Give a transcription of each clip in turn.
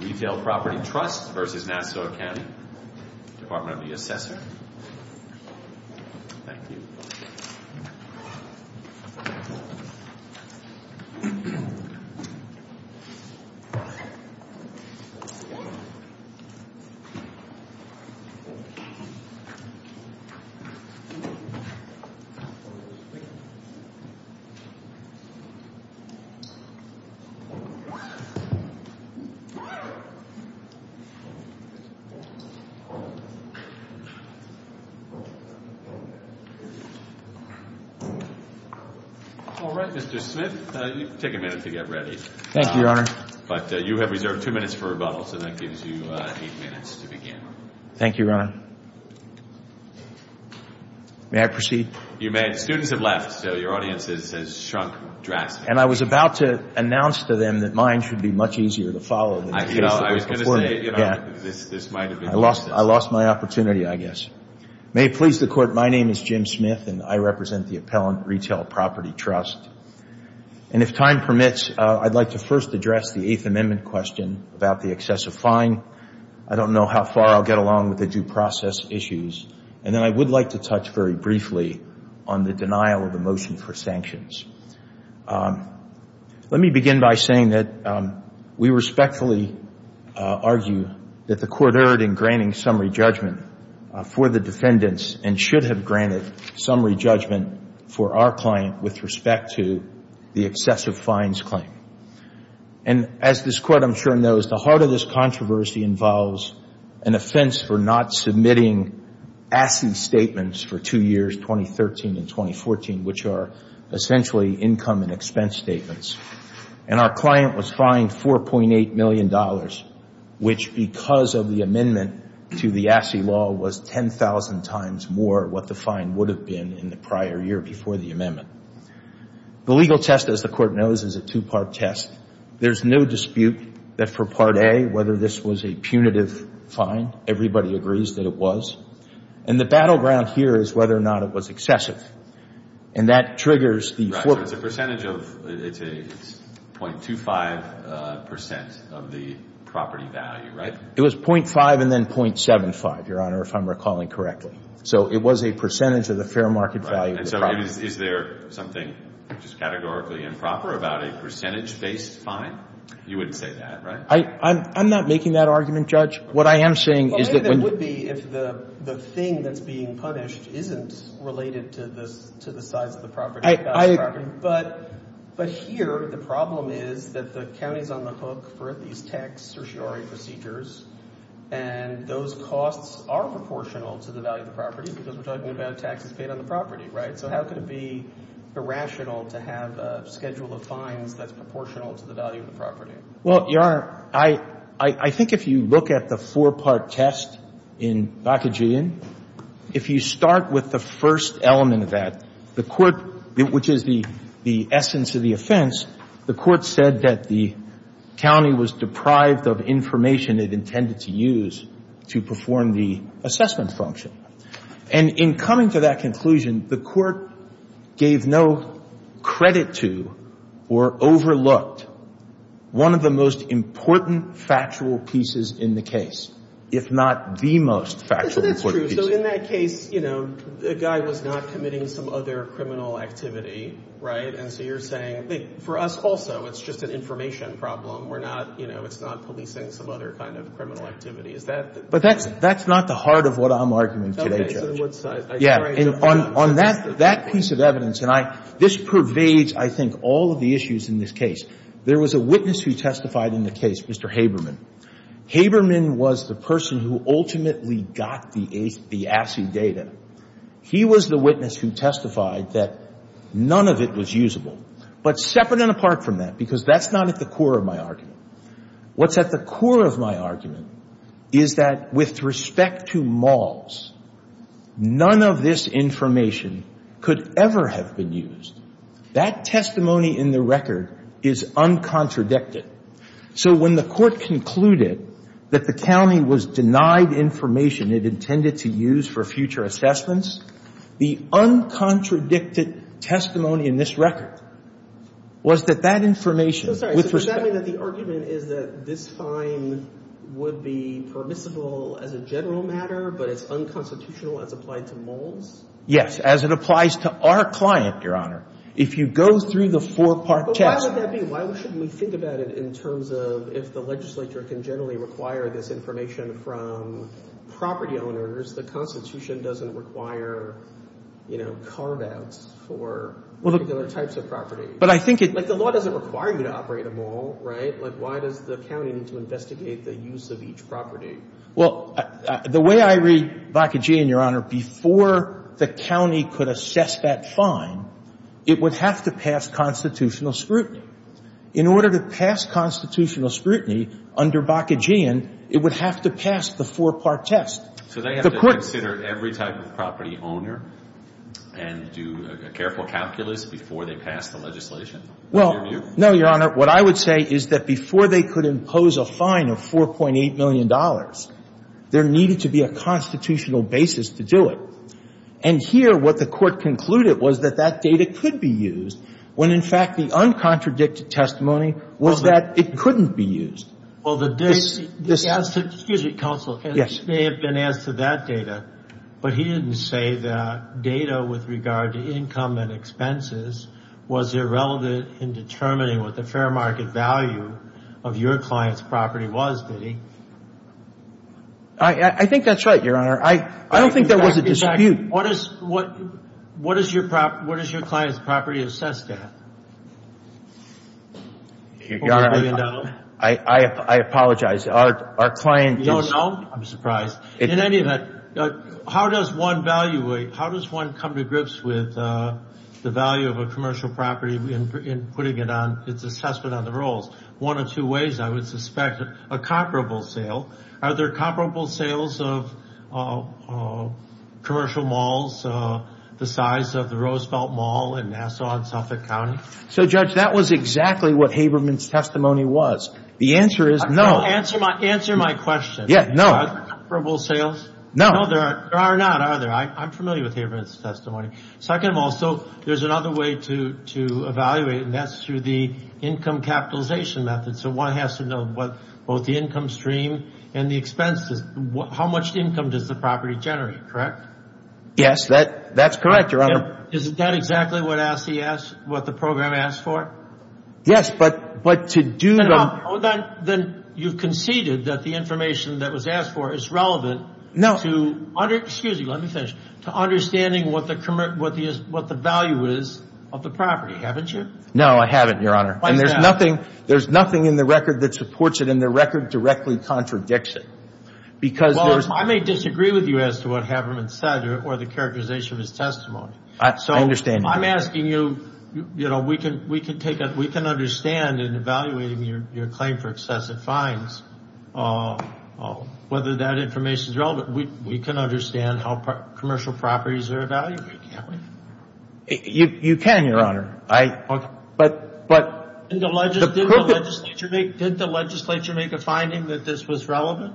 Retail Property Trust v. Nassau County Department of the Assessor All right, Mr. Smith. You can take a minute to get ready. Thank you, Your Honor. But you have reserved two minutes for rebuttal, so that gives you eight minutes to begin. Thank you, Your Honor. May I proceed? You may. The students have left, so your audience has shrunk drastically. And I was about to announce to them that mine should be much easier to follow I lost my opportunity, I guess. May it please the Court, my name is Jim Smith, and I represent the Appellant Retail Property Trust. And if time permits, I'd like to first address the Eighth Amendment question about the excessive fine. I don't know how far I'll get along with the due process issues. And then I would like to touch very briefly on the denial of motion for sanctions. Let me begin by saying that we respectfully argue that the Court erred in granting summary judgment for the defendants, and should have granted summary judgment for our client with respect to the excessive fines claim. And as this Court, I'm sure, knows, the heart of this controversy involves an offense for not submitting ASCII statements for two years, 2013 and 2014, which are essentially income and expense statements. And our client was fined $4.8 million, which, because of the amendment to the ASCII law, was 10,000 times more what the fine would have been in the prior year before the amendment. The legal test, as the Court knows, is a two-part test. There's no dispute that for Part A, whether this was a punitive fine, everybody agrees that it was. And the battleground here is whether or not it was excessive. And that triggers the flip. Right. So it's a percentage of, it's a 0.25 percent of the property value, right? It was 0.5 and then 0.75, Your Honor, if I'm recalling correctly. So it was a percentage of the fair market value of the property. Right. And so is there something which is categorically improper about a percentage-based fine? You wouldn't say that, right? I'm not making that argument, Judge. What I am saying is that when the It would be if the thing that's being punished isn't related to the size of the property, the value of the property. But here, the problem is that the county is on the hook for these tax certiorari procedures, and those costs are proportional to the value of the property, because we're talking about taxes paid on the property, right? So how could it be irrational to have a schedule of fines that's proportional to the value of the property? Well, Your Honor, I think if you look at the four-part test in Bakajian, if you start with the first element of that, the court, which is the essence of the offense, the court said that the county was deprived of information it intended to use to perform the assessment function. And in coming to that conclusion, the court gave no credit to or overlooked one of the most important factual pieces in the case, if not the most factual important piece. That's true. So in that case, you know, the guy was not committing some other criminal activity, right? And so you're saying, for us also, it's just an information problem. We're not, you know, it's not policing some other kind of criminal activity. Is that But that's, that's not the heart of what I'm arguing today, Judge. Okay, so in what size? Yeah. On that piece of evidence, and I, this pervades, I think, all of the issues in this case. There was a witness who testified in the case, Mr. Haberman. Haberman was the person who ultimately got the ACI data. He was the witness who testified that none of it was usable. But separate and apart from that, because that's not at the core of my argument, what's at the core of my argument is that with respect to the testimony in the record, the testimony in the record is un-contradicted. So when the court concluded that the county was denied information it intended to use for future assessments, the un-contradicted testimony in this record was that that information, with respect to the testimony in the record, was un-contradicted. I'm sorry. So does that mean that the argument is that this fine would be permissible as a general matter, but it's unconstitutional as applied to moles? Yes, as it applies to our client, Your Honor. If you go through the four-part test... But why would that be? Why shouldn't we think about it in terms of if the legislature can generally require this information from property owners, the Constitution doesn't require, you know, carve-outs for particular types of property? But I think it... Like, the law doesn't require you to operate a mole, right? Like, why does the county need to investigate the use of each property? Well, the way I read Bakkegian, Your Honor, before the county could assess that fine, it would have to pass constitutional scrutiny. In order to pass constitutional scrutiny under Bakkegian, it would have to pass the four-part test. So they have to consider every type of property owner and do a careful calculus before they pass the legislation? Well, no, Your Honor. What I would say is that before they could impose a fine of $4.8 million, there needed to be a constitutional basis to do it. And here, what the Court concluded was that that data could be used, when, in fact, the uncontradicted testimony was that it couldn't be used. Well, the... This... Excuse me, counsel. Yes. This may have been asked of that data, but he didn't say that data with regard to income and expenses was irrelevant in determining what the fair market value of your client's property was, did he? I think that's right, Your Honor. I don't think that was a dispute. In fact, what is your client's property assessed at? Your Honor, I apologize. Our client... You don't know? I'm surprised. In any event, how does one value a... How does one come to grips with the value of a commercial property in putting it on its assessment on the rolls? One of two ways, I would suspect, a comparable sale. Are there comparable sales of commercial malls the size of the Roosevelt Mall in Nassau and Suffolk County? So, Judge, that was exactly what Haberman's testimony was. The answer is no. Answer my question. Yeah, no. Are there comparable sales? No. No, there are not, are there? I'm familiar with Haberman's testimony. Second of all, there's another way to evaluate, and that's through the income capitalization method. So, one has to know both the income stream and the expenses. How much income does the property generate, correct? Yes, that's correct, Your Honor. Is that exactly what the program asked for? Yes, but to do... Then you conceded that the information that was asked for is relevant to... Excuse me, to understanding what the value is of the property, haven't you? No, I haven't, Your Honor. And there's nothing in the record that supports it, and the record directly contradicts it. Because there's... Well, I may disagree with you as to what Haberman said or the characterization of his testimony. I understand. I'm asking you, we can understand in evaluating your claim for excessive fines whether that information is relevant. We can understand how commercial properties are evaluated, can't we? You can, Your Honor. I... Did the legislature make a finding that this was relevant?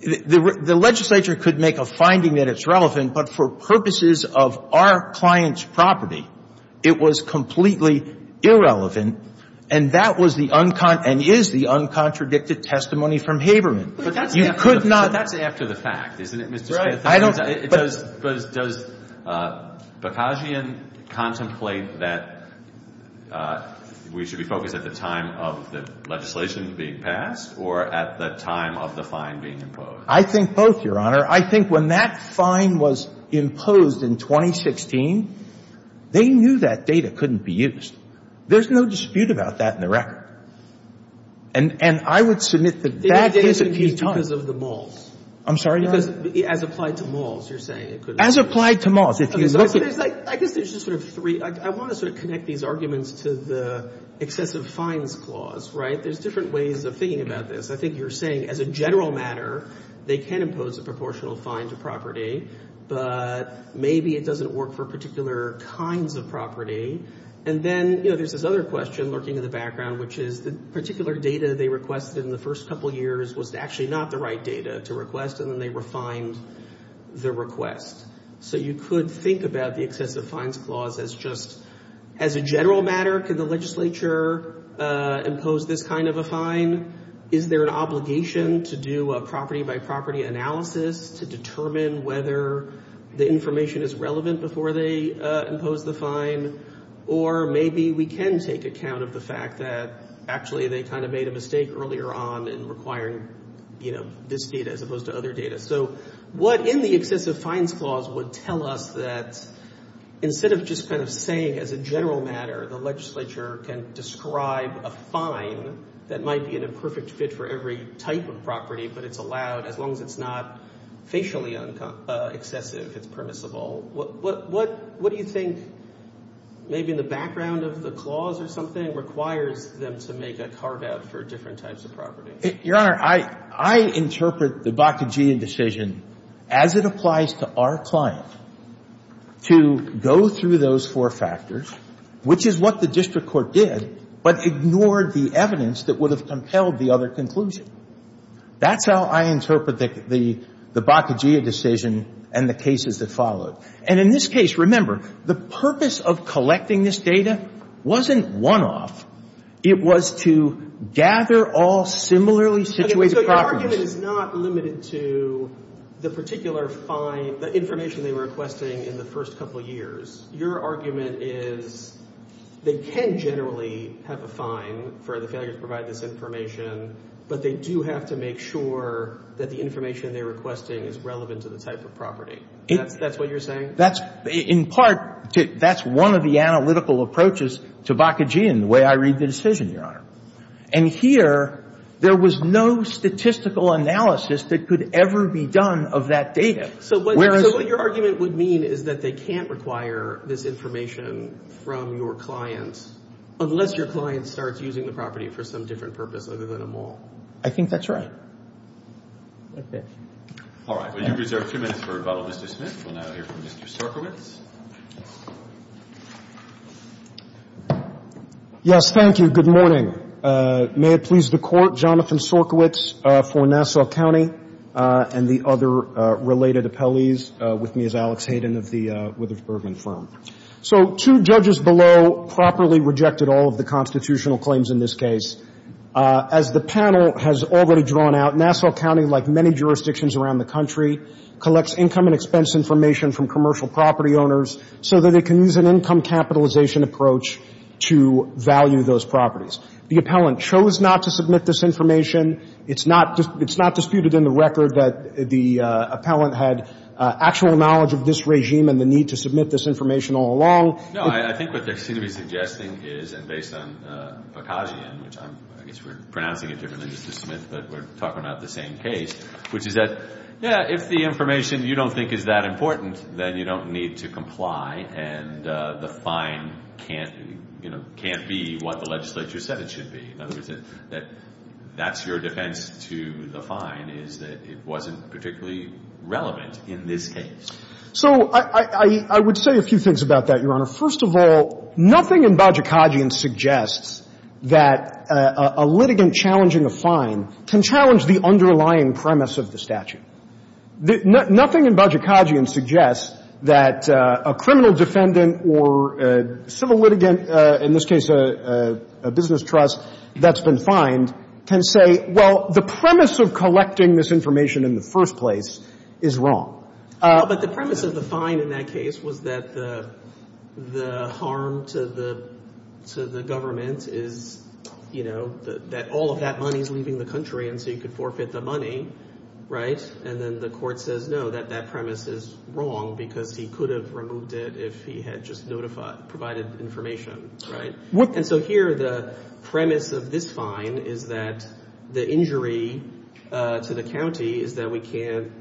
The legislature could make a finding that it's relevant, but for purposes of our client's property, it was completely irrelevant. And that was the... And is the uncontradicted testimony from Haberman. You could not... But that's after the fact, isn't it, Mr. Spadafore? I don't... Does Bakajian contemplate that we should be focused at the time of the legislation being passed or at the time of the fine being imposed? I think both, Your Honor. I think when that fine was imposed in 2016, they knew that data couldn't be used. There's no dispute about that in the record. And I would submit that that is a key time... Because of the malls. I'm sorry, Your Honor? As applied to malls, you're saying it could... As applied to malls. If you look at... I guess there's just sort of three. I want to sort of connect these arguments to the excessive fines clause, right? There's different ways of thinking about this. I think you're saying as a general matter, they can impose a proportional fine to property, but maybe it doesn't work for particular kinds of property. And then there's this other question lurking in the background, which is the particular data they requested in the first couple years was actually not the right data to request, and then they refined the request. So you could think about the excessive fines clause as just... As a general matter, could the to do a property-by-property analysis to determine whether the information is relevant before they impose the fine? Or maybe we can take account of the fact that actually they kind of made a mistake earlier on in requiring this data as opposed to other data. So what in the excessive fines clause would tell us that instead of just kind of saying as a general matter, the legislature can describe a fine that might be an imperfect fit for every type of property, but it's allowed as long as it's not facially excessive, it's permissible? What do you think, maybe in the background of the clause or something, requires them to make a carve-out for different types of property? Your Honor, I interpret the Bakkegian decision as it applies to our client to go through those four factors, which is what the district court did, but ignored the evidence that would have compelled the other conclusion. That's how I interpret the Bakkegian decision and the cases that followed. And in this case, remember, the purpose of collecting this data wasn't one-off. It was to gather all similarly situated properties. Okay. So your argument is not limited to the particular fine, the information they were requesting in the first couple years. Your argument is they can generally have a fine for the failure to provide this information, but they do have to make sure that the information they're requesting is relevant to the type of property. That's what you're saying? That's, in part, that's one of the analytical approaches to Bakkegian, the way I read the decision, Your Honor. And here, there was no statistical analysis that could ever be done of that data. So what your argument would mean is that they can't require this information from your client unless your client starts using the property for some different purpose other than a mall. I think that's right. All right. We'll reserve a few minutes for Mr. Smith. We'll now hear from Mr. Sorkiewicz. Yes, thank you. Good morning. May it please the Court, Jonathan Sorkiewicz for Nassau County and the other related appellees. With me is Alex Hayden of the Witherspurgen firm. So two judges below properly rejected all of the constitutional claims in this case. As the panel has already drawn out, Nassau County, like many jurisdictions around the country, collects income and expense information from commercial property owners so that they can use an income capitalization approach to value those properties. The appellant chose not to submit this information. It's not disputed in the record that the appellant had actual knowledge of this regime and the need to submit this information all along. No, I think what they seem to be suggesting is, and based on Bakajian, which I guess we're pronouncing it differently than Mr. Smith, but we're talking about the same case, which is that, yeah, if the information you don't think is that important, then you don't need to comply and the fine can't be what the legislature said it should be. In other words, that's your defense to the fine is that it wasn't particularly relevant in this case. So I would say a few things about that, Your Honor. First of all, nothing in Bakajian suggests that a litigant challenging a fine can challenge the underlying premise of the statute. Nothing in Bakajian suggests that a criminal defendant or a civil litigant, in this case a business trust that's been fined, can say, well, the premise of collecting this information in the first place is wrong. But the premise of the fine in that case was that the harm to the government is, you know, that all of that money is leaving the country and so you could forfeit the money, right? And then the court says, no, that that premise is wrong because he could have if he had just notified, provided information, right? And so here the premise of this fine is that the injury to the county is that we can't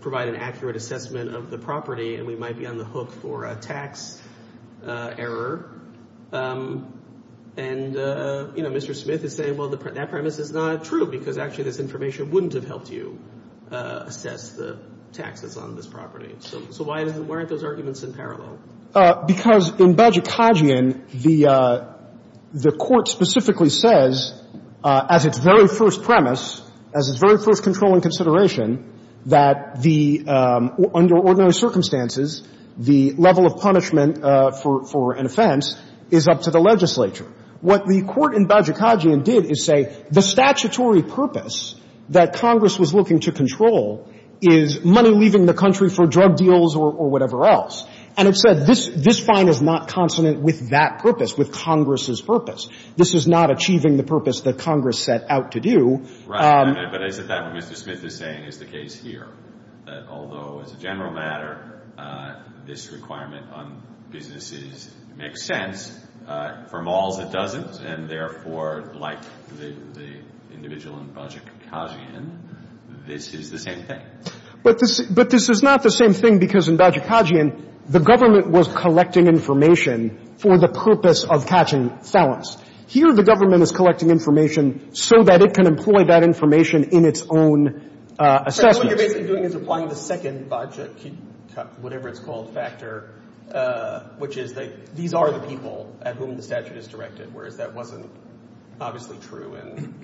provide an accurate assessment of the property and we might be on the hook for a tax error. And, you know, Mr. Smith is saying, well, that premise is not true because actually this information wouldn't have helped you assess the taxes on this property. So why aren't those arguments in parallel? Because in Bakajian, the Court specifically says as its very first premise, as its very first controlling consideration, that under ordinary circumstances, the level of punishment for an offense is up to the legislature. What the Court in Bakajian did is say the statutory purpose that Congress was looking to control is money leaving the country for drug deals or whatever else. And it said this fine is not consonant with that purpose, with Congress's purpose. This is not achieving the purpose that Congress set out to do. Right. But is it that what Mr. Smith is saying is the case here? That although as a general matter, this requirement on businesses makes sense, for malls it doesn't, and therefore, like the individual in Bakajian, this is the same thing. But this is not the same thing because in Bakajian, the government was collecting information for the purpose of catching felons. Here the government is collecting information so that it can employ that information in its own assessment. So what you're basically doing is applying the second whatever it's called factor, which is that these are the people at whom the statute is directed, whereas that wasn't obviously true in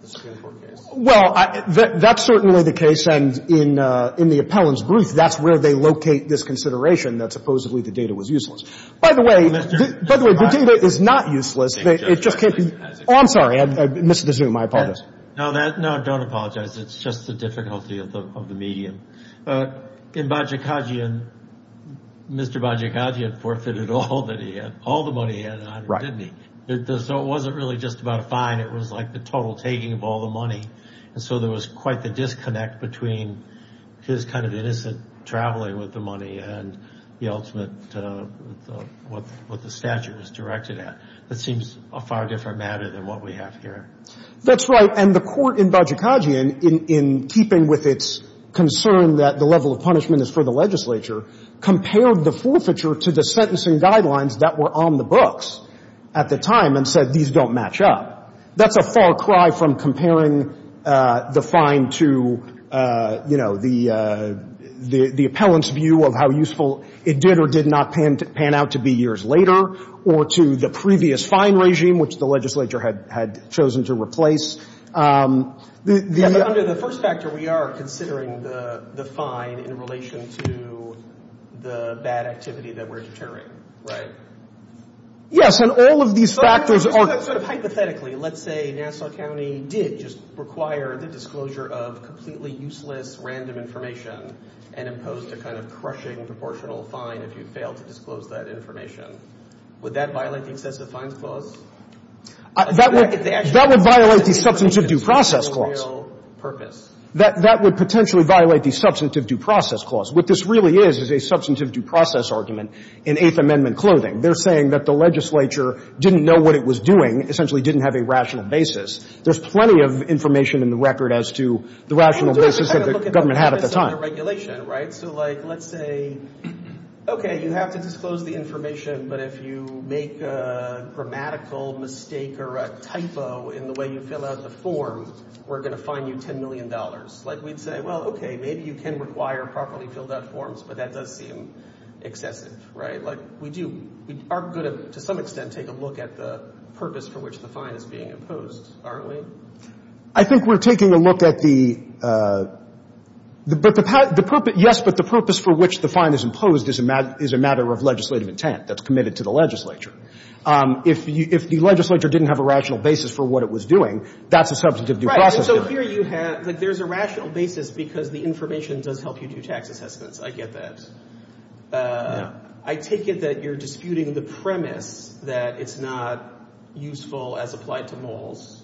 the Skidmore case. Well, that's certainly the case. And in the appellant's brief, that's where they locate this consideration that supposedly the data was useless. By the way, the data is not useless. It just can't be. Oh, I'm sorry. I missed the zoom. I apologize. No, don't apologize. It's just the difficulty of the medium. In Bakajian, Mr. Bakajian forfeited all the money he had on him, didn't he? So it wasn't really just about a fine. It was like the total taking of all the money. And so there was quite the disconnect between his kind of innocent traveling with the money and the ultimate, what the statute was directed at. That seems a far different matter than what we have here. That's right. And the court in Bakajian, in keeping with its concern that the level of punishment is for the legislature, compared the forfeiture to the sentencing guidelines that were on the books at the time and said, these don't match up. That's a far cry from comparing the fine to the appellant's view of how useful it did or did not pan out to be years later, or to the previous fine regime, which the legislature had chosen to replace. Under the first factor, we are considering the fine in relation to the bad activity that we're deterring, right? Yes. And all of these factors are... So hypothetically, let's say Nassau County did just require the disclosure of completely useless random information and imposed a kind of crushing proportional fine if you failed to disclose that information. Would that violate the excessive fines clause? That would violate the substantive due process clause. That would potentially violate the substantive due process clause. What this really is, is a substantive due process argument in Eighth Amendment clothing. They're saying that the legislature didn't know what it was doing, essentially didn't have a rational basis. There's plenty of information in the record as to the rational basis that the government had at the time. So let's say, okay, you have to disclose the information, but if you make a grammatical mistake or a typo in the way you fill out the form, we're going to fine you $10 million. Like, we'd say, well, okay, maybe you can require properly filled out forms, but that does seem excessive, right? Like, we do... We are going to, to some extent, take a look at the purpose for which the fine is being imposed, aren't we? I think we're taking a look at the... But the purpose... Yes, but the purpose for which the fine is imposed is a matter of legislative intent that's committed to the legislature. If the legislature didn't have a rational basis for what it was doing, that's a substantive due process argument. Right. And so here you have... Like, there's a rational basis because the information does help you do tax assessments. I get that. Yeah. I take it that you're disputing the premise that it's not useful as applied to moles.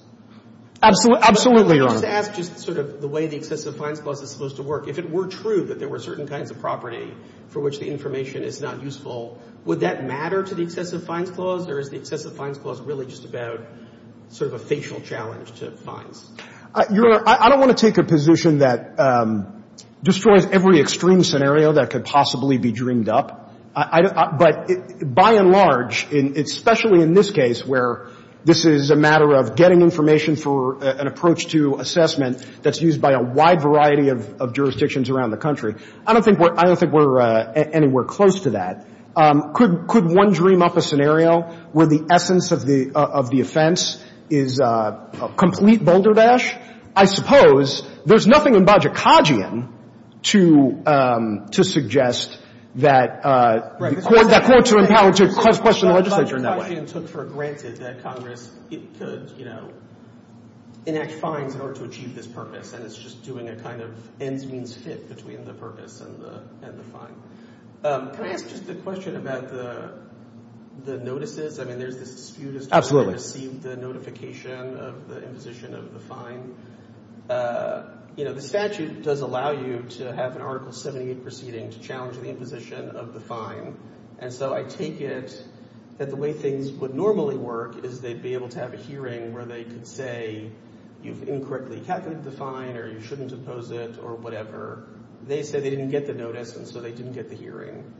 Absolutely, Your Honor. But let me just ask just sort of the way the excessive fines clause is supposed to work. If it were true that there were certain kinds of property which the information is not useful, would that matter to the excessive fines clause, or is the excessive fines clause really just about sort of a facial challenge to fines? Your Honor, I don't want to take a position that destroys every extreme scenario that could possibly be dreamed up. But by and large, especially in this case, where this is a matter of getting information for an approach to assessment that's used by a wide variety of jurisdictions around the country, I don't think we're anywhere close to that. Could one dream up a scenario where the essence of the offense is a complete boulder dash? I suppose there's nothing in Bajikadzian to suggest that the courts are empowered to question the legislature in that way. Bajikadzian took for granted that Congress could, you know, enact fines in order to achieve this purpose, and it's just doing a kind of ends means fit between the purpose and the fine. Can I ask just a question about the notices? I mean, there's this dispute as to whether to receive the notification of the imposition of the fine. You know, the statute does allow you to have an Article 78 proceeding to challenge the imposition of the fine. And so I take it that the way things would normally work is they'd be able to have a hearing where they could say, incorrectly, you can't get the fine, or you shouldn't impose it, or whatever. They say they didn't get the notice, and so they didn't get the hearing.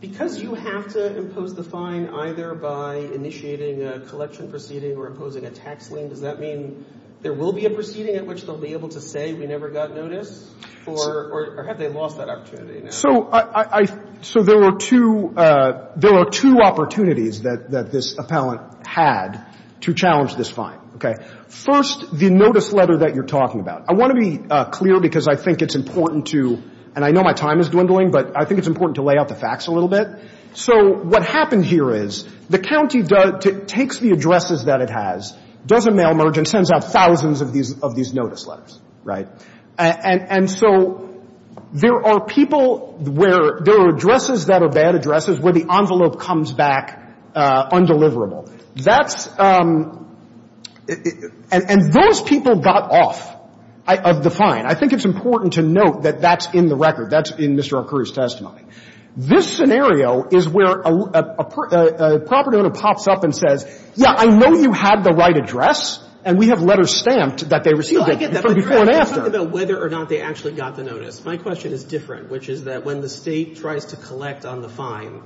Because you have to impose the fine either by initiating a collection proceeding or imposing a tax lien, does that mean there will be a proceeding at which they'll be able to say we never got notice, or have they lost that opportunity? So I — so there were two — there were two opportunities that this appellant had to challenge this fine, okay? First, the notice letter that you're talking about. I want to be clear because I think it's important to — and I know my time is dwindling, but I think it's important to lay out the facts a little bit. So what happened here is the county does — takes the addresses that it has, does a mail merge, and sends out thousands of these notice letters, right? And so there are people where — there are addresses that are bad addresses where the envelope comes back undeliverable. That's — and those people got off of the fine. I think it's important to note that that's in the record. That's in Mr. Arcurio's testimony. This scenario is where a property owner pops up and says, yeah, I know you had the right address, and we have letters stamped that they received it from before and after. Whether or not they actually got the notice, my question is different, which is that when the State tries to collect on the fine,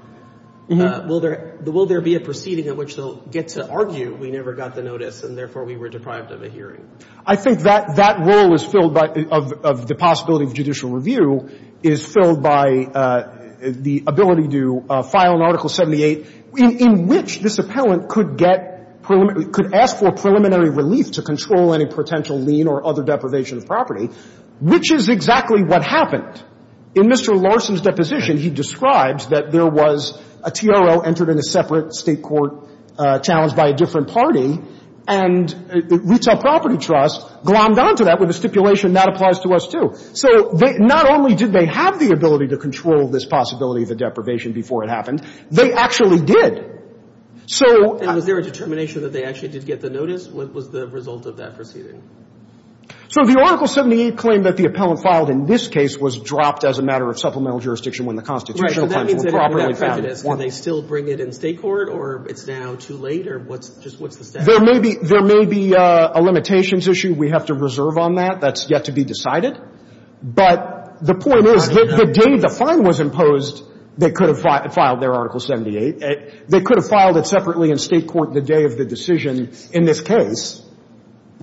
will there — will there be a proceeding in which they'll get to argue we never got the notice and therefore we were deprived of a hearing? I think that — that role is filled by — of the possibility of judicial review is filled by the ability to file an Article 78 in which this appellant could get — could ask for relief to control any potential lien or other deprivation of property, which is exactly what happened. In Mr. Larson's deposition, he describes that there was a TRO entered in a separate State court challenged by a different party, and the Retail Property Trust glommed on to that with a stipulation that applies to us, too. So they — not only did they have the ability to control this possibility of a deprivation before it happened, they actually did. So — What was the result of that proceeding? So the Article 78 claim that the appellant filed in this case was dropped as a matter of supplemental jurisdiction when the constitutional claims were properly found. Right. So that means that without prejudice, can they still bring it in State court, or it's now too late, or what's — just what's the status? There may be — there may be a limitations issue we have to reserve on that. That's yet to be decided. But the point is that the day the fine was imposed, they could have filed their Article 78. They could have filed it separately in State court the day of the decision in this case.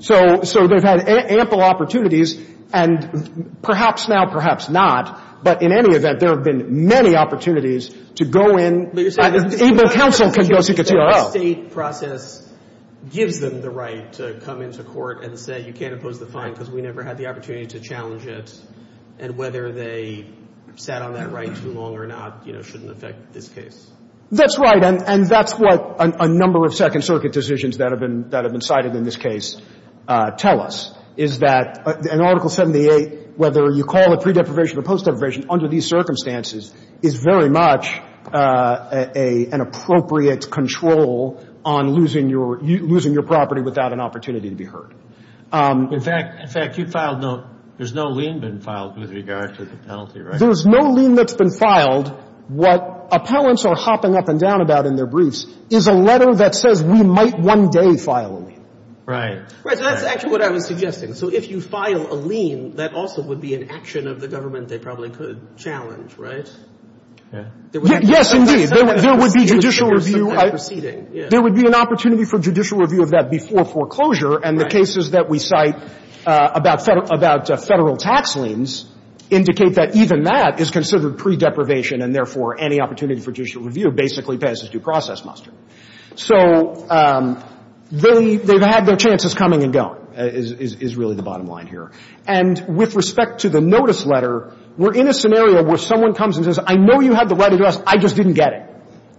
So they've had ample opportunities, and perhaps now, perhaps not, but in any event, there have been many opportunities to go in — But you're saying — Even counsel can go seek a TRO. But you're saying the State process gives them the right to come into court and say, you can't impose the fine because we never had the opportunity to challenge it, and whether they sat on that right too long or not, you know, shouldn't affect this case? That's right. And that's what a number of Second Circuit decisions that have been cited in this case tell us, is that an Article 78, whether you call it pre-deprivation or post-deprivation, under these circumstances, is very much an appropriate control on losing your property without an opportunity to be heard. In fact, you filed no — there's no lien been filed with regard to the penalty, right? There's no lien that's been filed. What appellants are hopping up and down about in their briefs is a letter that says we might one day file a lien. Right. Right. So that's actually what I was suggesting. So if you file a lien, that also would be an action of the government they probably could challenge, right? Yes, indeed. There would be judicial review. There would be an opportunity for judicial review of that before foreclosure. And the cases that we cite about Federal tax liens indicate that even that is considered pre-deprivation and, therefore, any opportunity for judicial review basically passes due process muster. So they've had their chances coming and going, is really the bottom line here. And with respect to the notice letter, we're in a scenario where someone comes and says, I know you had the right address, I just didn't get it.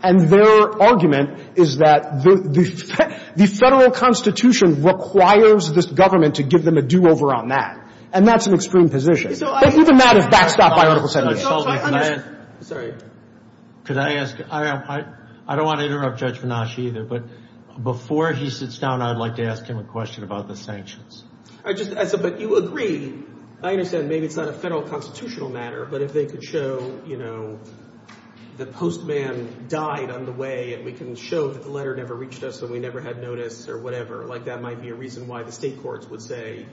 And their argument is that the Federal Constitution requires this government to give them a do-over on that. And that's an extreme position. But even that is backstopped by Article 7. Sorry. Could I ask, I don't want to interrupt Judge Venash either, but before he sits down, I'd like to ask him a question about the sanctions. But you agree, I understand maybe it's not a Federal constitutional matter, but if they could show, you know, the postman died on the way and we can show that the letter never reached us and we never had notice or whatever, like, that might be a reason why the State courts would say,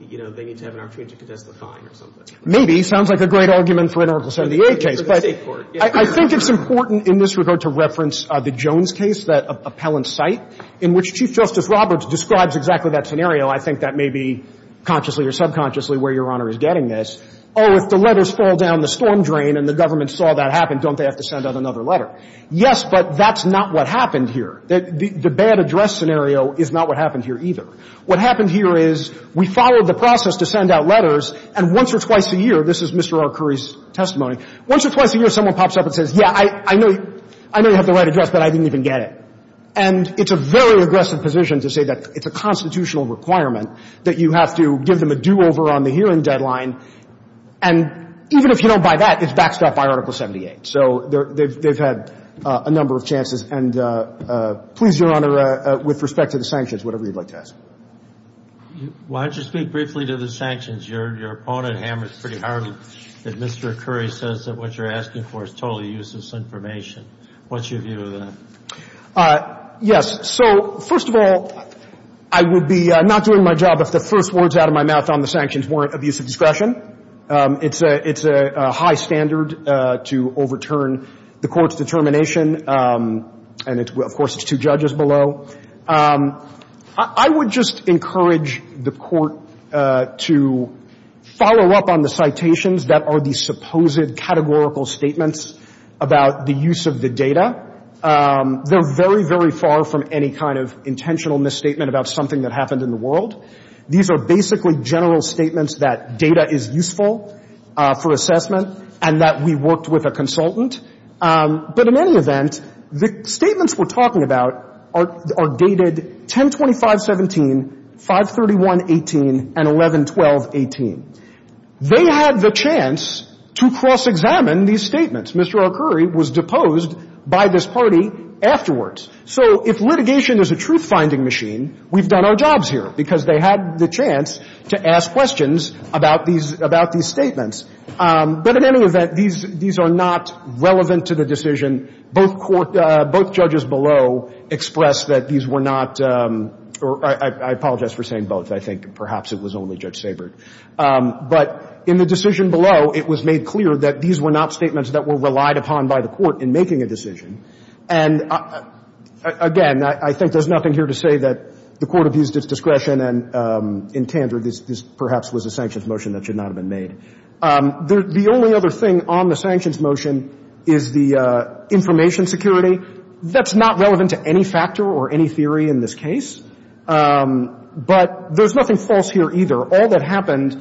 you know, they need to have an opportunity to contest the fine or something. Maybe. Sounds like a great argument for an Article 78 case. For the State court, yeah. I think it's important in this regard to reference the Jones case, that appellant cite, in which Chief Justice Roberts describes exactly that scenario. I think that may be consciously or subconsciously where Your Honor is getting this. Oh, if the letters fall down the storm drain and the government saw that happen, don't they have to send out another letter? Yes, but that's not what happened here. The bad address scenario is not what happened here either. What happened here is we followed the process to send out letters, and once or twice a year, this is Mr. R. Curry's testimony, once or twice a year someone pops up and says, yeah, I know you have the right address, but I didn't even get it. And it's a very aggressive position to say that it's a constitutional requirement that you have to give them a do-over on the hearing deadline. And even if you don't buy that, it's backstopped by Article 78. So they've had a number of chances. And please, Your Honor, with respect to the sanctions, whatever you'd like to ask. Why don't you speak briefly to the sanctions? Your opponent hammers pretty hard that Mr. Curry says that what you're asking for is totally useless information. What's your view of that? Yes. So first of all, I would be not doing my job if the first words out of my mouth on the sanctions weren't abuse of discretion. It's a high standard to overturn the Court's determination, and of course it's two judges below. I would just encourage the Court to follow up on the citations that are the supposed categorical statements about the use of the data. They're very, very far from any kind of intentional misstatement about something that happened in the world. These are basically general statements that data is useful for assessment and that we worked with a consultant. But in any event, the statements we're talking about are dated 1025.17, 531.18, and 1112.18. They had the chance to cross-examine these statements. Mr. O'Curry was deposed by this party afterwards. So if litigation is a truth-finding machine, we've done our jobs here because they had the chance to ask questions about these statements. But in any event, these are not relevant to the decision. Both judges below expressed that these were not or I apologize for saying both. I think perhaps it was only Judge Ginsburg. But in the decision below, it was made clear that these were not statements that were relied upon by the Court in making a decision. And again, I think there's nothing here to say that the Court abused its discretion and in tandor this perhaps was a sanctions motion that should not have been made. The only other thing on the sanctions motion is the information security. That's not relevant to any factor or any theory in this case. But there's nothing false here either. All that happens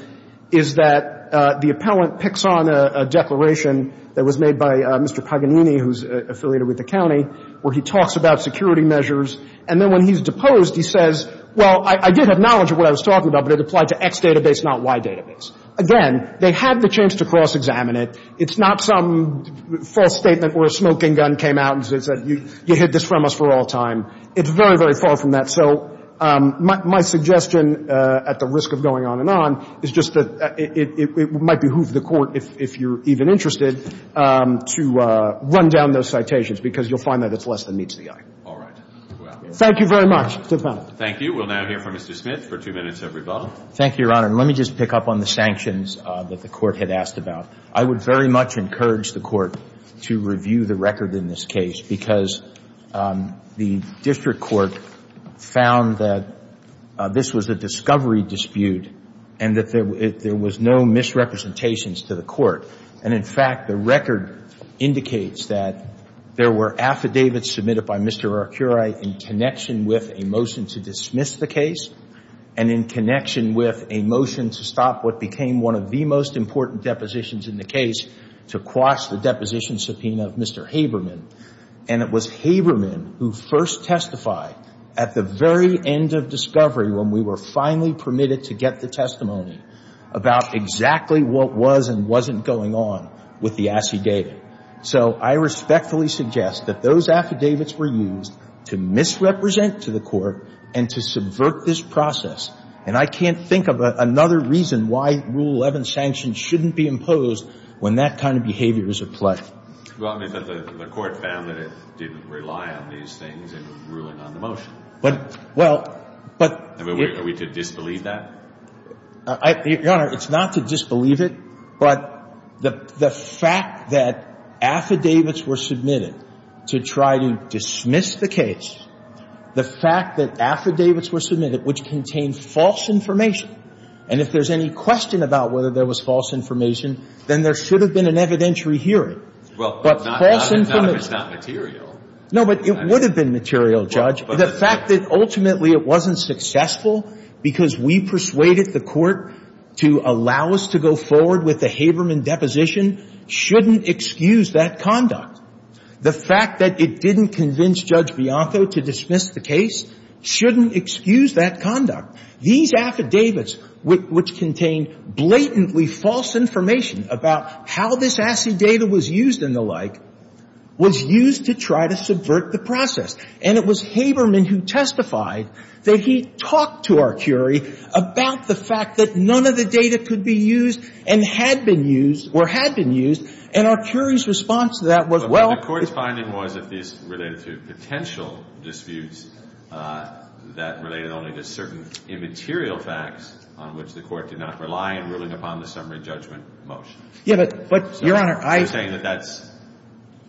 is that the Court makes a decision, and what happens is that the appellant picks on a declaration that was made by Mr. Paganini, who's affiliated with the county, where he talks about security measures. And then when he's deposed, he says, well, I did have knowledge of what I was talking about, but it applied to X database, not Y database. Again, they had the chance to cross-examine it. It's not some false statement where a smoking gun came out and said you hid this from us for all time. It's very, very far from that. So my suggestion at the risk of going on and on is just that it might behoove the Court, if you're even interested, to run down those citations, because you'll find that it's less than meets the eye. All right. Thank you very much to the panel. Thank you. We'll now hear from Mr. Smith for two minutes every vote. Thank you, Your Honor. And let me just pick up on the sanctions that the Court had asked about. I would very much encourage the Court to review the record in this case, because the District Court found that this was a discovery dispute and that there was no misrepresentations to the Court. And in fact, the record indicates that there were affidavits submitted by Mr. Arcuray in connection with a motion to dismiss the case and in connection with a motion to stop what became one of the most important depositions in the case, to quash the deposition subpoena of Mr. Haberman. And it was Haberman who first testified at the very end of discovery when we were finally permitted to get the testimony about exactly what was and wasn't going on with the affidavit. So I respectfully suggest that those affidavits were used to misrepresent to the Court and to subvert this process. And I can't think of another reason why Rule 11 sanctions shouldn't be imposed when that kind of behavior is at play. Well, I mean, the Court found that it didn't rely on these things. It was ruling on the motion. But, well, but — Are we to disbelieve that? Your Honor, it's not to disbelieve it, but the fact that affidavits were submitted to try to dismiss the case, the fact that affidavits were submitted, which contained false information, and if there's any question about whether there was false information, then there should have been an evidentiary hearing. Well, but not if it's not material. No, but it would have been material, Judge. But the fact that ultimately it wasn't successful because we persuaded the Court to allow us to go forward with the Haberman deposition shouldn't excuse that conduct. The fact that it didn't convince Judge Bianco to dismiss the case shouldn't excuse that conduct. These affidavits, which contained blatantly false information about how this acid data was used and the like, was used to try to subvert the process. And it was Haberman who testified that he talked to Arcuri about the fact that none of the data could be used and had been used or had been used. And Arcuri's response to that was, well — But the Court's finding was that these related to potential disputes that related not only to certain immaterial facts on which the Court did not rely in ruling upon the summary judgment motion. You're saying that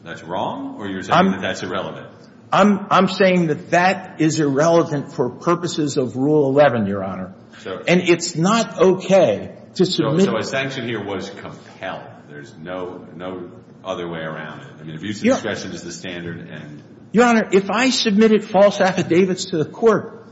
that's wrong, or you're saying that that's irrelevant? I'm saying that that is irrelevant for purposes of Rule 11, Your Honor. And it's not okay to submit — So a sanction here was compelled. There's no other way around it. I mean, if use of discretion is the standard and — Your Honor, if I submitted false affidavits to the Court,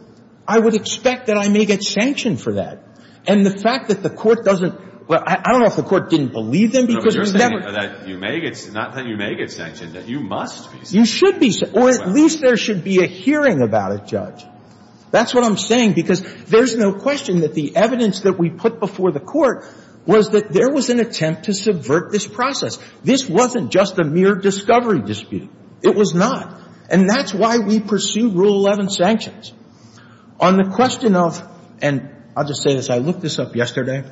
I would expect that I may get sanctioned for that. And the fact that the Court doesn't — well, I don't know if the Court didn't believe them, because we never — No, but you're saying that you may get — not that you may get sanctioned, that you must be sanctioned. You should be — or at least there should be a hearing about it, Judge. That's what I'm saying, because there's no question that the evidence that we put before the Court was that there was an attempt to subvert this process. This wasn't just a mere discovery dispute. It was not. And that's why we pursue Rule 11 sanctions. On the question of — and I'll just say this. I looked this up yesterday.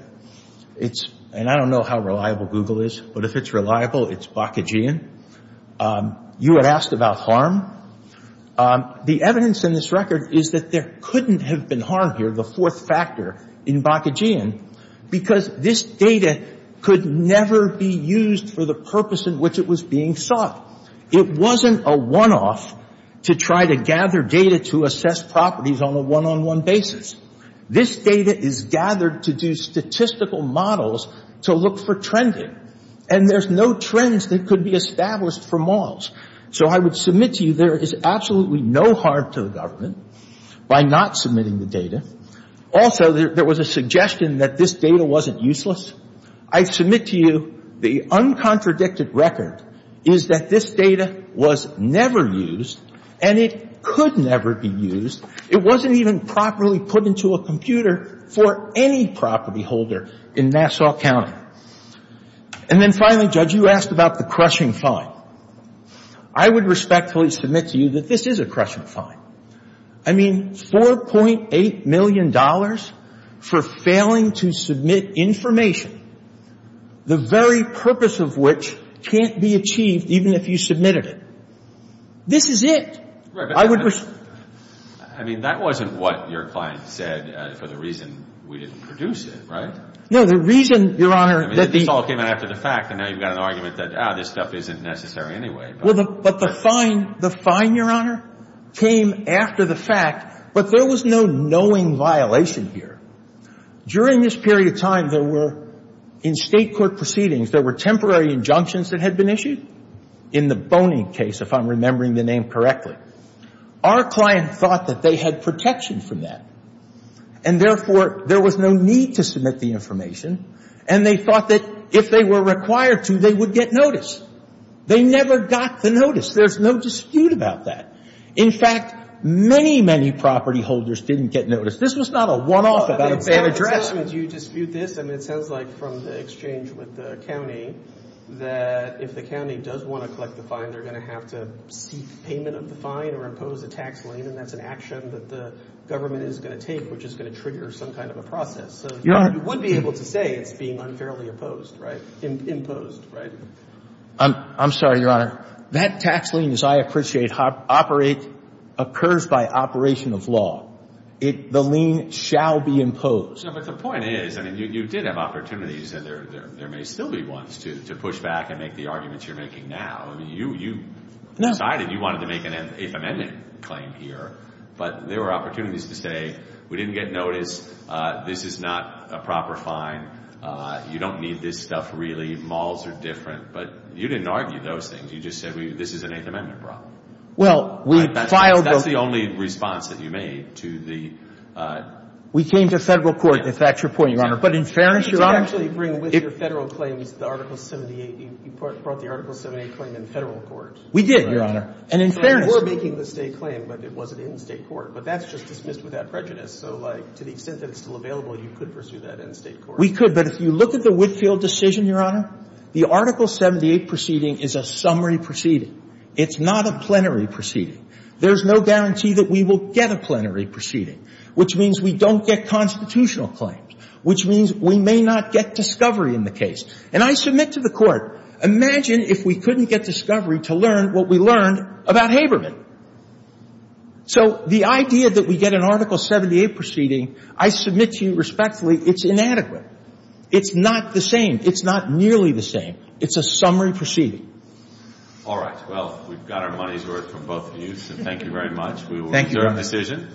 It's — and I don't know how reliable Google is, but if it's reliable, it's Bakhachian. You had asked about harm. The evidence in this record is that there couldn't have been harm here, the fourth factor in Bakhachian, because this data could never be used for the purpose in which it was being sought. It wasn't a one-off to try to gather data to assess properties on a one-on-one basis. This data is gathered to do statistical models to look for trending. And there's no trends that could be established for models. So I would submit to you there is absolutely no harm to the government by not submitting the data. Also, there was a suggestion that this data wasn't useless. I submit to you the uncontradicted record is that this data was never used, and it could never be used. It wasn't even properly put into a computer for any property holder in Nassau County. And then finally, Judge, you asked about the crushing fine. I would respectfully submit to you that this is a crushing fine. I mean, $4.8 million for failing to submit information, the very purpose of which can't be achieved even if you submitted it. This is it. I would respond. I mean, that wasn't what your client said for the reason we didn't produce it, right? No, the reason, Your Honor, that the This all came out after the fact, and now you've got an argument that, ah, this stuff isn't necessary anyway. Well, but the fine, Your Honor, came after the fact, but there was no knowing violation here. During this period of time, there were, in state court proceedings, there were temporary injunctions that had been issued. In the Boning case, if I'm remembering the name correctly, our client thought that they had protection from that. And therefore, there was no need to submit the information, and they thought that if they were required to, they would get notice. They never got the notice. There's no dispute about that. In fact, many, many property holders didn't get notice. This was not a one-off about a bad address. Do you dispute this? I mean, it sounds like from the exchange with the county that if the county does want to collect the fine, they're going to have to seek payment of the fine or impose a tax lien, and that's an action that the government is going to take, which is going to trigger some kind of a process. So you would be able to say it's being unfairly imposed, right? I'm sorry, Your Honor. That tax lien, as I appreciate, occurs by operation of law. The lien shall be imposed. Yeah, but the point is, I mean, you did have opportunities, and there may still be ones, to push back and make the arguments you're making now. I mean, you decided you wanted to make an if-amendment claim here, but there were opportunities to say, we didn't get notice. This is not a proper fine. You don't need this stuff, really. Malls are different. But you didn't argue those things. You just said, this is an if-amendment problem. Well, we filed the- That's the only response that you made to the- We came to federal court, if that's your point, Your Honor. But in fairness, Your Honor- Did you actually bring with your federal claims the Article 78? You brought the Article 78 claim in federal court. We did, Your Honor. And in fairness- So you were making the state claim, but it wasn't in state court. But that's just dismissed without prejudice. So to the extent that it's still available, you could pursue that in state court. We could, but if you look at the Whitfield decision, Your Honor, the Article 78 proceeding is a summary proceeding. It's not a plenary proceeding. There's no guarantee that we will get a plenary proceeding, which means we don't get constitutional claims, which means we may not get discovery in the case. And I submit to the Court, imagine if we couldn't get discovery to learn what we learned about Haberman. So the idea that we get an Article 78 proceeding, I submit to you respectfully, it's inadequate. It's not the same. It's not nearly the same. It's a summary proceeding. All right. Well, we've got our money's worth from both of you, so thank you very much. We will return to decision.